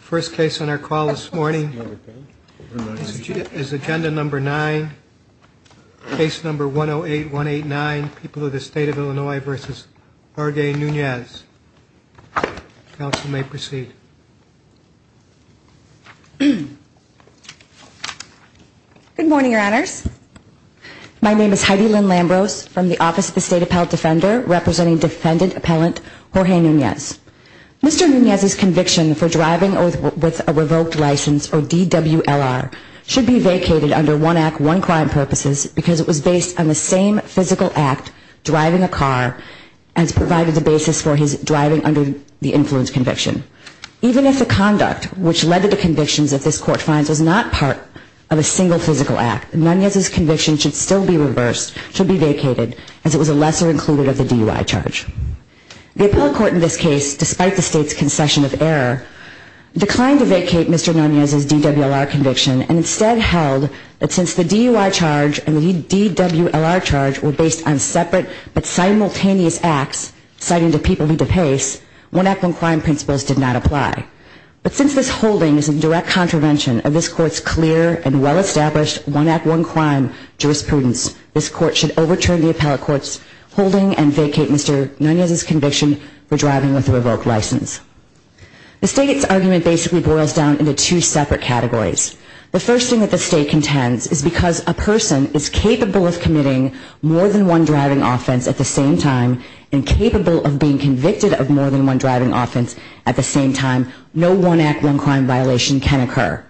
First case on our call this morning is agenda number nine, case number 108189, People of the State of Illinois v. Jorge Nunez. Counsel may proceed. Good morning, Your Honors. My name is Heidi Lynn Lambros from the Office of the State Appellate Defender, representing defendant appellant Jorge Nunez. Mr. Nunez's conviction for driving with a revoked license, or DWLR, should be vacated under one act, one crime purposes, because it was based on the same physical act, driving a car, as provided the basis for his driving under the influence conviction. Even if the conduct which led to the convictions that this Court finds was not part of a single physical act, Mr. Nunez's conviction should still be reversed, should be vacated, as it was a lesser included of the DUI charge. The appellate court in this case, despite the State's concession of error, declined to vacate Mr. Nunez's DWLR conviction and instead held that since the DUI charge and the DWLR charge were based on separate but simultaneous acts, citing the people who do pace, one act, one crime principles did not apply. But since this holding is a direct contravention of this Court's clear and well-established one act, one crime jurisprudence, this Court should overturn the appellate court's holding and vacate Mr. Nunez's conviction for driving with a revoked license. The State's argument basically boils down into two separate categories. The first thing that the State contends is because a person is capable of committing more than one driving offense at the same time and capable of being convicted of more than one driving offense at the same time, no one act, one crime violation can occur.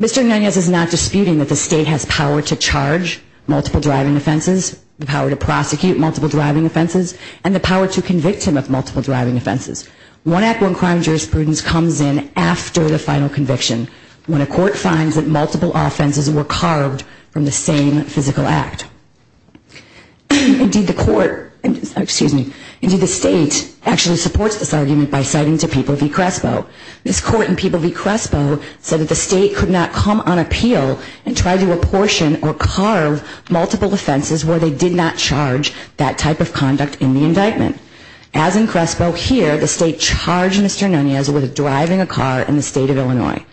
Mr. Nunez is not disputing that the State has power to charge multiple driving offenses, the power to prosecute multiple driving offenses, and the power to convict him of multiple driving offenses. One act, one crime jurisprudence comes in after the final conviction, when a Court finds that multiple offenses were carved from the same physical act. Indeed, the State actually supports this argument by citing to People v. Crespo. This Court in People v. Crespo said that the State could not come on appeal and try to apportion or carve multiple offenses where they did not charge that type of conduct in the indictment. As in Crespo here, the State charged Mr. Nunez with driving a car in the State of Illinois.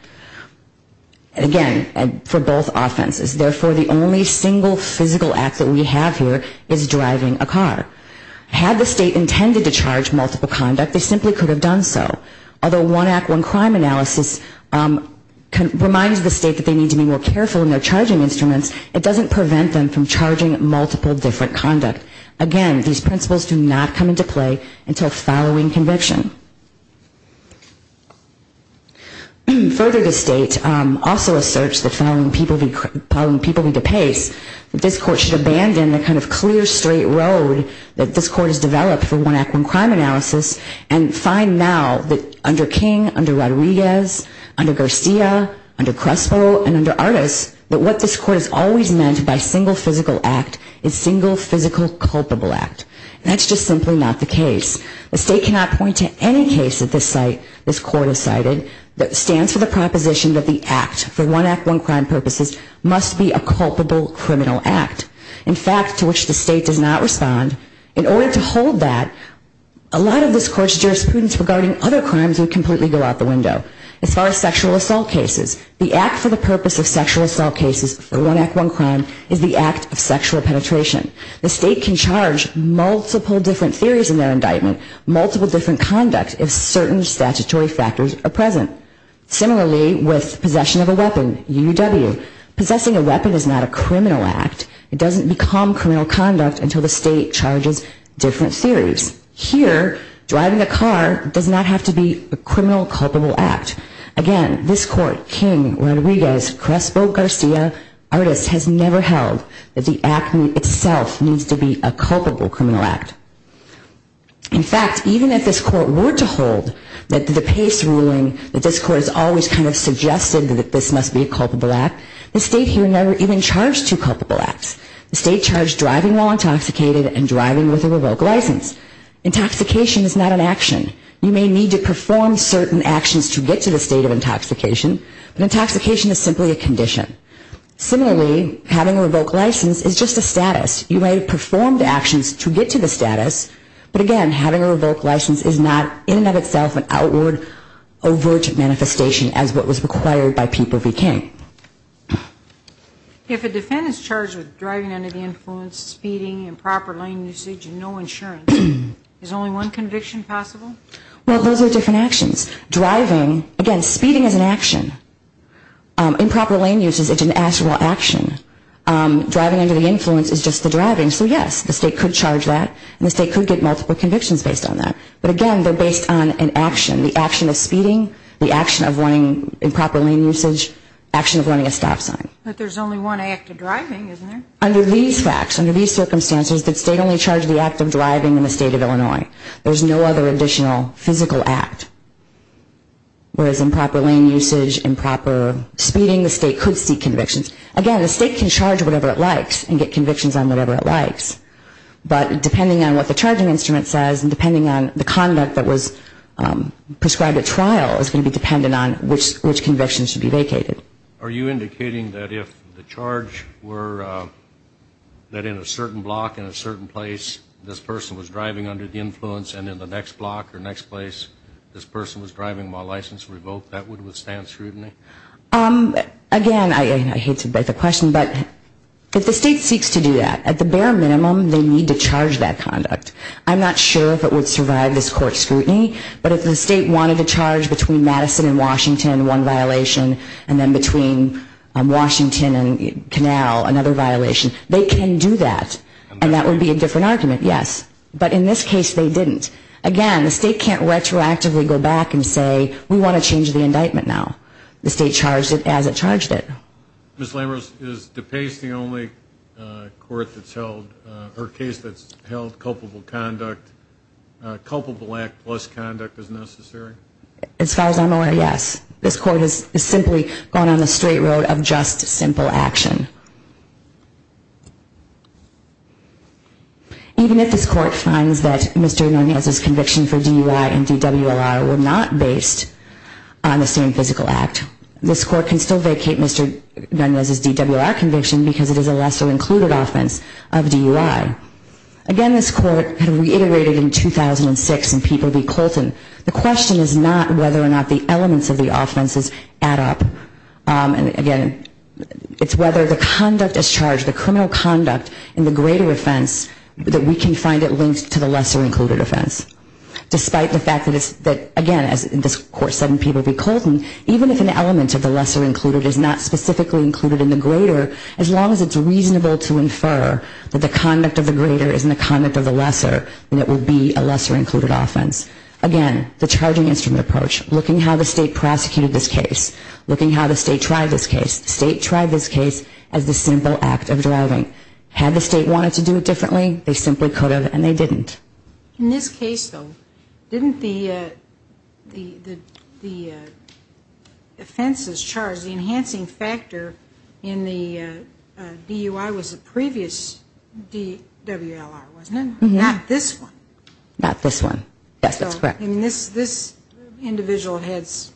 Again, for both offenses, therefore the only single physical act that we have here is driving a car. Had the State intended to charge multiple conduct, they simply could have done so. Although one act, one crime analysis reminds the State that they need to be more careful in their charging instruments, it doesn't prevent them from charging multiple different conduct. Again, these principles do not come into play until following conviction. Further, the State also asserts that following People v. DePace, that this Court should abandon the kind of clear, straight road that this Court has developed for one act, one crime analysis and find now that under King, under Rodriguez, under Garcia, under Crespo, and under Artis, that what this Court has always meant by single physical act is single physical culpable act. That's just simply not the case. The State cannot point to any case that this Court has cited that stands for the proposition that the act for one act, one crime purposes must be a culpable criminal act. In fact, to which the State does not respond, in order to hold that, a lot of this Court's jurisprudence regarding other crimes would completely go out the window. As far as sexual assault cases, the act for the purpose of sexual assault cases for one act, one crime is the act of sexual penetration. The State can charge multiple different theories in their indictment, multiple different conduct if certain statutory factors are present. Similarly, with possession of a weapon, UUW, possessing a weapon is not a criminal act. It doesn't become criminal conduct until the State charges different theories. Here, driving a car does not have to be a criminal culpable act. Again, this Court, King, Rodriguez, Crespo, Garcia, Artis, has never held that the act itself needs to be a culpable criminal act. In fact, even if this Court were to hold that the pace ruling that this Court has always kind of suggested that this must be a culpable act, the State here never even charged two culpable acts. The State charged driving while intoxicated and driving with a revoked license. Intoxication is not an action. You may need to perform certain actions to get to the state of intoxication, but intoxication is simply a condition. Similarly, having a revoked license is just a status. You may have performed actions to get to the status, but again, having a revoked license is not in and of itself an outward, overt manifestation as what was required by people v. King. If a defendant is charged with driving under the influence, speeding, improper lane usage, and no insurance, is only one conviction possible? Well, those are different actions. Driving, again, speeding is an action. Improper lane usage is an actionable action. Driving under the influence is just the driving, so yes, the State could charge that and the State could get multiple convictions based on that, but again, they're based on an action. The action of speeding, the action of running improper lane usage, the action of running a stop sign. But there's only one act of driving, isn't there? Under these facts, under these circumstances, the State only charged the act of driving in the State of Illinois. There's no other additional physical act. Whereas improper lane usage, improper speeding, the State could seek convictions. Again, the State can charge whatever it likes and get convictions on whatever it likes, but depending on what the charging instrument says and depending on the conduct that was prescribed at trial is going to be dependent on which convictions should be vacated. Are you indicating that if the charge were that in a certain block, in a certain place this person was driving under the influence and in the next block or next place this person was driving while license revoked, that would withstand scrutiny? Again, I hate to beg the question, but if the State seeks to do that, at the bare minimum, they need to charge that conduct. I'm not sure if it would survive this court scrutiny, but if the State wanted to charge between Madison and Washington one violation and then between Washington and Canal another violation, they can do that. And that would be a different argument, yes. But in this case they didn't. Again, the State can't retroactively go back and say we want to change the indictment now. The State charged it as it charged it. Ms. Lammers, is DePace the only court that's held or case that's held culpable conduct, culpable act plus conduct as necessary? As far as I'm aware, yes. This court has simply gone on the straight road of just simple action. Even if this court finds that Mr. Nunez's conviction for DUI and DWR were not based on the same physical act, this court can still vacate Mr. Nunez's DWR conviction because it is a lesser included offense of DUI. Again, this court reiterated in 2006 in People v. Colton, the question is not whether or not the elements of the offenses add up. Again, it's whether the conduct as charged, the criminal conduct in the greater offense, that we can find it linked to the lesser included offense. Despite the fact that, again, as this court said in People v. Colton, even if an element of the lesser included is not specifically included in the greater, as long as it's reasonable to infer that the conduct of the greater is in the conduct of the lesser, then it will be a lesser included offense. Again, the charging instrument approach, looking how the state prosecuted this case, looking how the state tried this case, the state tried this case as the simple act of driving. Had the state wanted to do it differently, they simply could have and they didn't. In this case, though, didn't the offenses charged, the enhancing factor in the DUI was the previous DWLR, wasn't it? Not this one. Not this one, yes, that's correct. And this individual has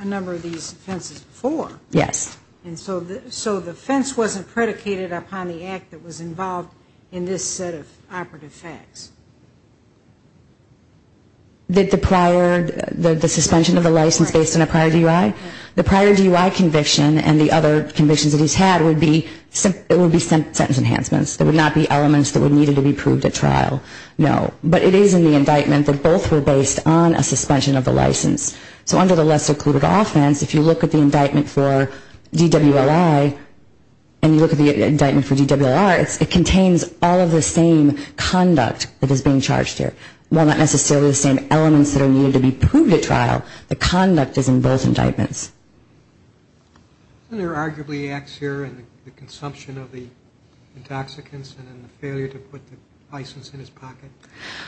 a number of these offenses before. Yes. And so the offense wasn't predicated upon the act that was involved in this set of operative facts. The prior, the suspension of the license based on a prior DUI? The prior DUI conviction and the other convictions that he's had would be sentence enhancements. There would not be elements that would need to be proved at trial, no. But it is in the indictment that both were based on a suspension of the license. So under the lesser included offense, if you look at the indictment for DWLI and you look at the indictment for DWR, it contains all of the same conduct that is being charged here. While not necessarily the same elements that are needed to be proved at trial, the conduct is in both indictments. And there are arguably acts here in the consumption of the intoxicants and in the failure to put the license in his pocket.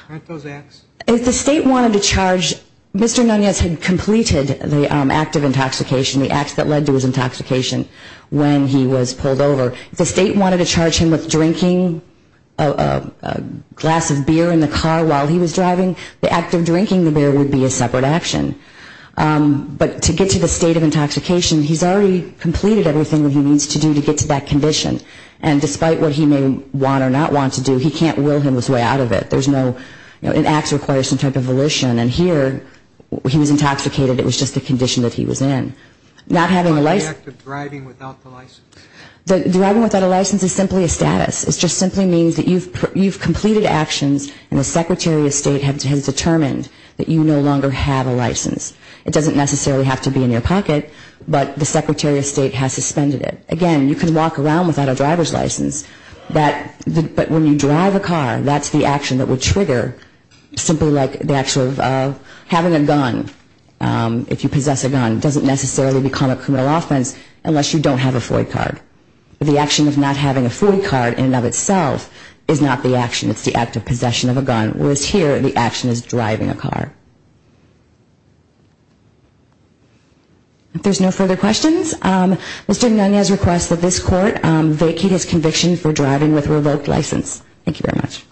Aren't those acts? If the state wanted to charge, Mr. Nunez had completed the act of intoxication, the act that led to his intoxication when he was pulled over. If the state wanted to charge him with drinking a glass of beer in the car while he was driving, the act of drinking the beer would be a separate action. But to get to the state of intoxication, he's already completed everything that he needs to do to get to that condition. And despite what he may want or not want to do, he can't will him this way out of it. There's no, an act requires some type of volition. And here he was intoxicated, it was just a condition that he was in. Not having a license. Driving without a license is simply a status. It just simply means that you've completed actions and the Secretary of State has determined that you no longer have a license. It doesn't necessarily have to be in your pocket, but the Secretary of State has suspended it. Again, you can walk around without a driver's license, but when you drive a car, that's the action that would trigger simply like the actual, having a gun. If you possess a gun, it doesn't necessarily become a criminal offense unless you don't have a FOIA card. The action of not having a FOIA card in and of itself is not the action. It's the act of possession of a gun. Whereas here, the action is driving a car. If there's no further questions, Mr. Nunez requests that this Court vacate his conviction for driving with a revoked license. Thank you very much.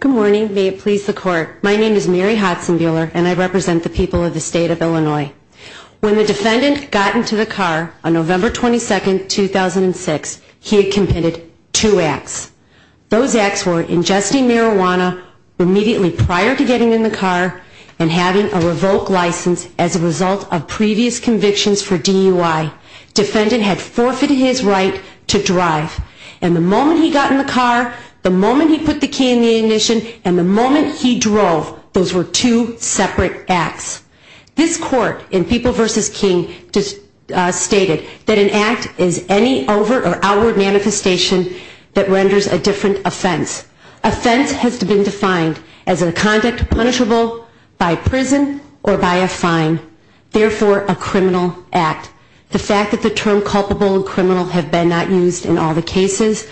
Good morning. May it please the Court. My name is Mary Hodson-Buehler and I represent the people of the State of Illinois. When the defendant got into the car on November 22, 2006, he had committed two acts. Those acts were ingesting marijuana immediately prior to getting in the car and having a revoked license as a result of previous convictions for DUI. Defendant had forfeited his right to drive and the moment he got in the car, the moment he put the key in the ignition, and the moment he drove, those were two separate acts. This Court in People v. King stated that an act is any overt or outward manifestation that renders a different offense. Offense has been defined as a conduct punishable by prison or by a fine, therefore a criminal act. The fact that the term culpable and criminal have been not used in all the cases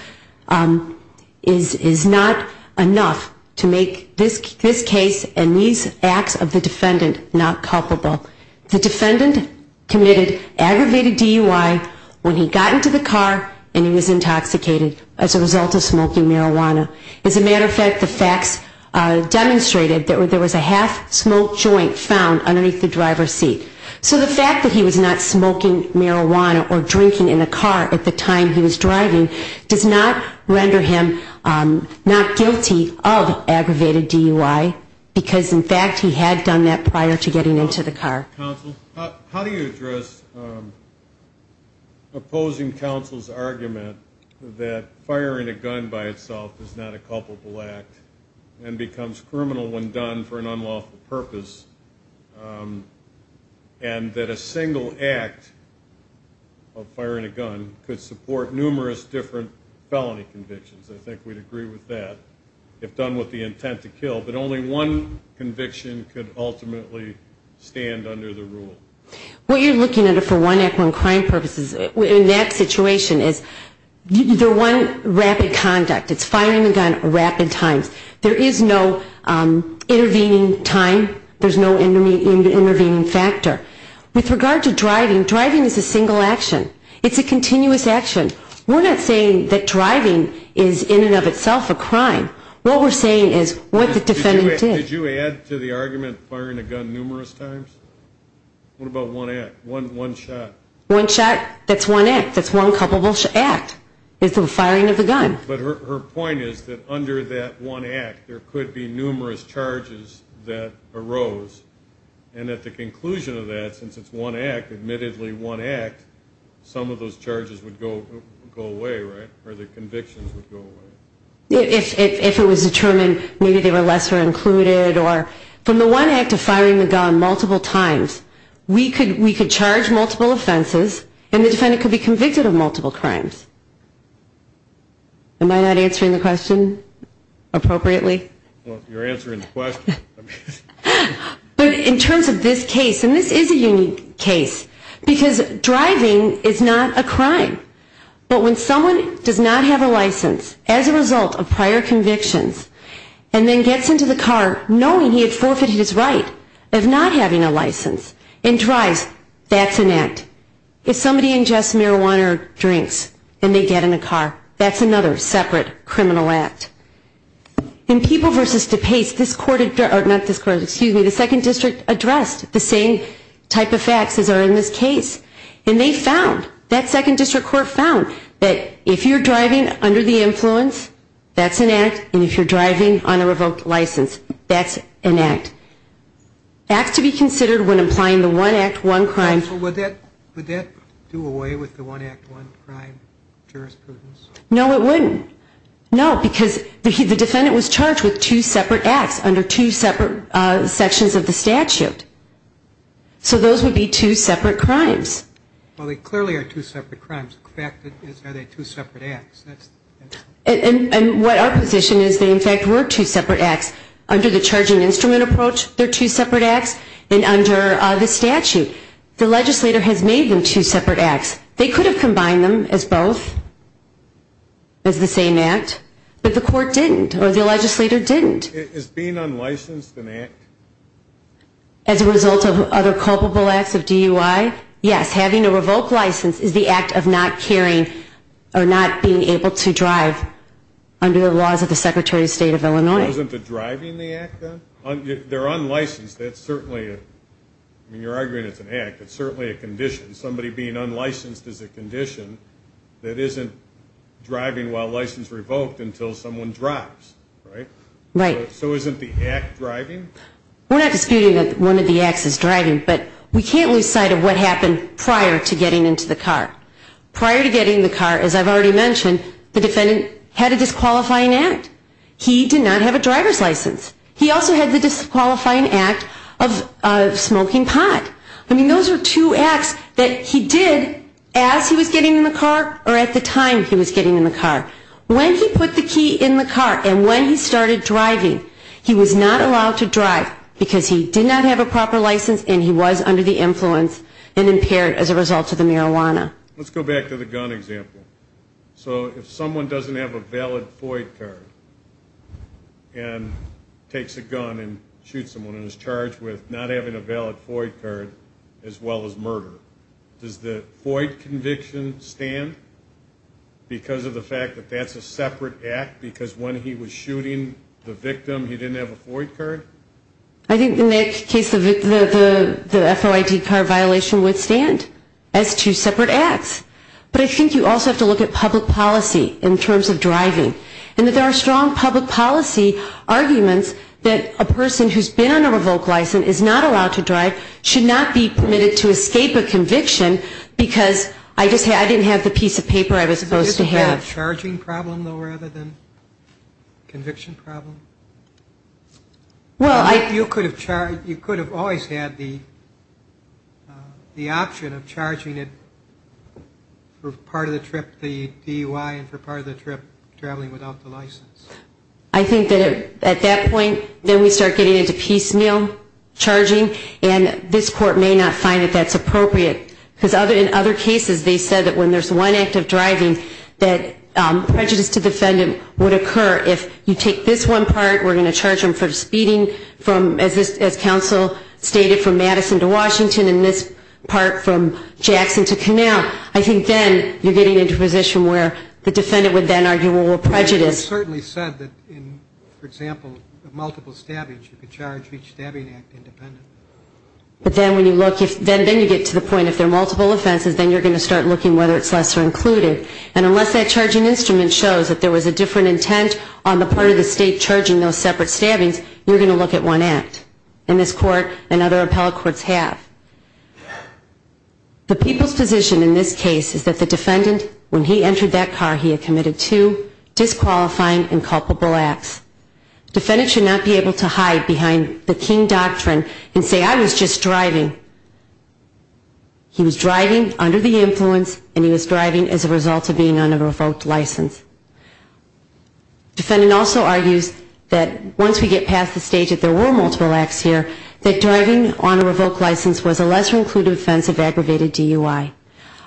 is not enough to make this case and these acts of the defendant not culpable. The defendant committed aggravated DUI when he got into the car and he was intoxicated as a result of smoking marijuana. As a matter of fact, the facts demonstrated that there was a half-smoked joint found underneath the driver's seat. So the fact that he was not smoking marijuana or drinking in the car at the time he was driving does not render him not guilty of aggravated DUI because in fact he had done that prior to getting into the car. How do you address opposing counsel's argument that firing a gun by itself is not a culpable act and becomes criminal when done for an unlawful purpose and that a single act of firing a gun could support numerous different felony convictions? I think we'd agree with that, if done with the intent to kill, but only one conviction could ultimately stand under the rule. What you're looking at for one act on crime purposes in that situation is one rapid conduct. It's firing a gun rapid times. There is no intervening time. There's no intervening factor. With regard to driving, driving is a single action. It's a continuous action. We're not saying that driving is in and of itself a crime. What we're saying is what the defendant did. Did you add to the argument firing a gun numerous times? What about one act, one shot? One shot, that's one act. That's one culpable act is the firing of the gun. But her point is that under that one act there could be numerous charges that arose and at the conclusion of that, since it's one act, admittedly one act, some of those charges would go away, right? Or the convictions would go away. If it was determined maybe they were lesser included. From the one act of firing the gun multiple times, we could charge multiple offenses and the defendant could be convicted of multiple crimes. Am I not answering the question appropriately? You're answering the question. But in terms of this case, and this is a unique case, because driving is not a crime, but when someone does not have a license as a result of prior convictions and then gets into the car knowing he had forfeited his right of not having a license and drives, that's an act. If somebody ingests marijuana or drinks and they get in a car, that's another separate criminal act. In People v. DePace, this court, not this court, excuse me, the second district addressed the same type of facts as are in this case. And they found, that second district court found that if you're driving under the influence, that's an act, and if you're driving on a revoked license, that's an act. Acts to be considered when applying the one act, one crime. Would that do away with the one act, one crime jurisprudence? No, it wouldn't. No, because the defendant was charged with two separate acts under two separate sections of the statute. So those would be two separate crimes. Well, they clearly are two separate crimes. In fact, are they two separate acts? And what our position is, they in fact were two separate acts. Under the charging instrument approach, they're two separate acts, and under the statute. The legislator has made them two separate acts. They could have combined them as both, as the same act, but the court didn't, or the legislator didn't. Is being unlicensed an act? As a result of other culpable acts of DUI, yes, having a revoked license is the act of not carrying or not being able to drive under the laws of the Secretary of State of Illinois. Wasn't the driving the act, then? They're unlicensed, that's certainly, I mean, you're arguing it's an act, it's certainly a condition. Somebody being unlicensed is a condition that isn't driving while license revoked until someone drives, right? So isn't the act driving? We're not disputing that one of the acts is driving, but we can't lose sight of what happened prior to getting into the car. Prior to getting in the car, as I've already mentioned, the defendant had a disqualifying act. He did not have a driver's license. He also had the disqualifying act of smoking pot. I mean, those are two acts that he did as he was getting in the car or at the time he was getting in the car. When he put the key in the car and when he started driving, he was not allowed to drive because he did not have a proper license and he was under the influence and impaired as a result of the marijuana. Let's go back to the gun example. So if someone doesn't have a valid FOID card and takes a gun and shoots someone and is charged with not having a valid FOID card as well as murder, does the FOID conviction stand because of the fact that that's a separate act because when he was shooting the victim he didn't have a FOID card? I think in that case the FOID card violation would stand as two separate acts. But I think you also have to look at public policy in terms of driving and that there are strong public policy arguments that a person who's been on a revoked license is not allowed to drive, should not be permitted to escape a conviction, because I didn't have the piece of paper I was supposed to have. Do you have a charging problem, though, rather than conviction problem? You could have always had the option of charging it for part of the trip, the DUI, and for part of the trip traveling without the license. I think that at that point then we start getting into piecemeal charging and this court may not find that that's appropriate because in other cases they said that when there's one act of driving that prejudice to defendant would occur. If you take this one part, we're going to charge him for speeding from, as counsel stated, from Madison to Washington and this part from Jackson to Canal, I think then you're getting into a position where the defendant would then argue what prejudice. You certainly said that in, for example, multiple stabbings you could charge each stabbing act independent. But then when you look, then you get to the point if there are multiple offenses then you're going to start looking whether it's lesser included. And unless that charging instrument shows that there was a different intent on the part of the state charging those separate stabbings, you're going to look at one act. And this court and other appellate courts have. The people's position in this case is that the defendant, when he entered that car, he had committed two disqualifying and culpable acts. Defendant should not be able to hide behind the king doctrine and say I was just driving. He was driving under the influence and he was driving as a result of being on a revoked license. Defendant also argues that once we get past the stage that there were multiple acts here, that driving on a revoked license was a lesser included offense of aggravated DUI.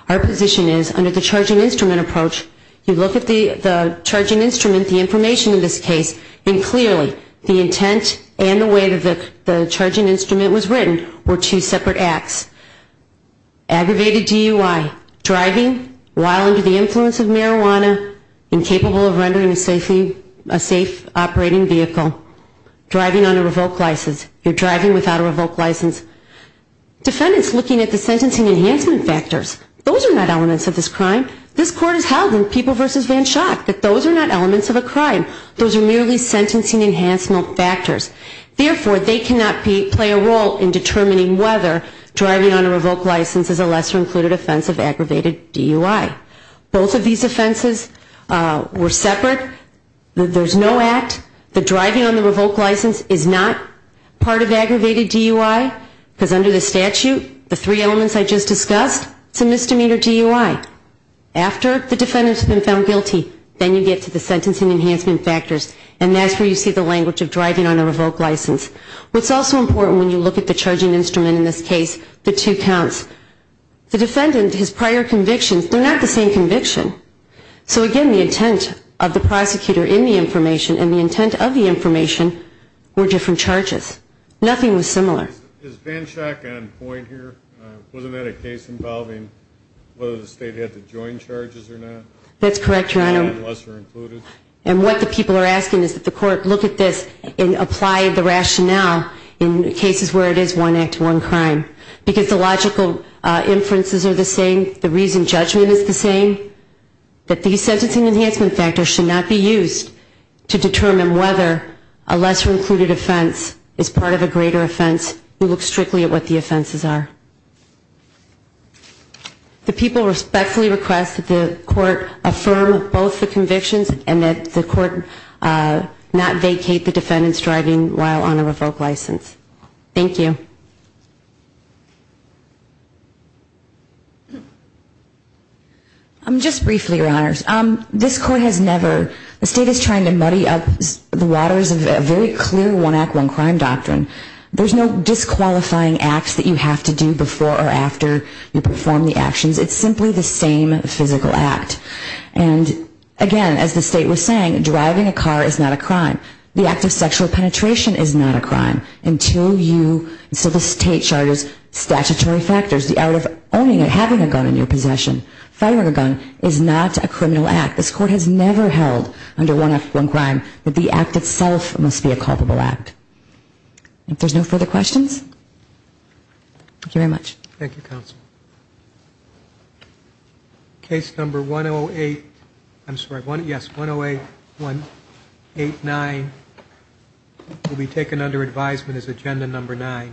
Our position is under the charging instrument approach, you look at the charging instrument, the information in this case, and clearly the intent and the way that the charging instrument was written were two separate acts. Aggravated DUI, driving while under the influence of marijuana, incapable of rendering a safe operating vehicle, driving on a revoked license, you're driving without a revoked license. Defendants looking at the sentencing enhancement factors, those are not elements of this crime. This Court has held in People v. Van Schaak that those are not elements of a crime. Those are merely sentencing enhancement factors. Therefore, they cannot play a role in determining whether driving on a revoked license is a lesser included offense of aggravated DUI. Both of these offenses were separate. There's no act. The driving on the revoked license is not part of aggravated DUI because under the statute, the three elements I just discussed, it's a misdemeanor DUI. After the defendant's been found guilty, then you get to the sentencing enhancement factors, and that's where you see the language of driving on a revoked license. What's also important when you look at the charging instrument in this case, the two counts. The defendant, his prior convictions, they're not the same conviction. So again, the intent of the prosecutor in the information Nothing was similar. Is Van Schaak on point here? Wasn't that a case involving whether the state had to join charges or not? That's correct, Your Honor. And what the people are asking is that the Court look at this and apply the rationale in cases where it is one act, one crime. Because the logical inferences are the same, the reason judgment is the same, that these sentencing enhancement factors should not be used to determine whether a lesser-included offense is part of a greater offense. We look strictly at what the offenses are. The people respectfully request that the Court affirm both the convictions and that the Court not vacate the defendant's driving while on a revoked license. Thank you. Just briefly, Your Honors. This Court has never, the state is trying to muddy up the waters of a very clear one act, one crime doctrine. There's no disqualifying acts that you have to do before or after you perform the actions. It's simply the same physical act. And again, as the state was saying, driving a car is not a crime. The act of sexual penetration is not a crime until you, so the state charges statutory factors. The act of owning and having a gun in your possession, firing a gun is not a criminal act. This Court has never held under one act, one crime that the act itself must be a culpable act. If there's no further questions, thank you very much. Thank you, Counsel. Case number 108, I'm sorry, yes, 108, 189 will be taken under advisement as agenda number 9.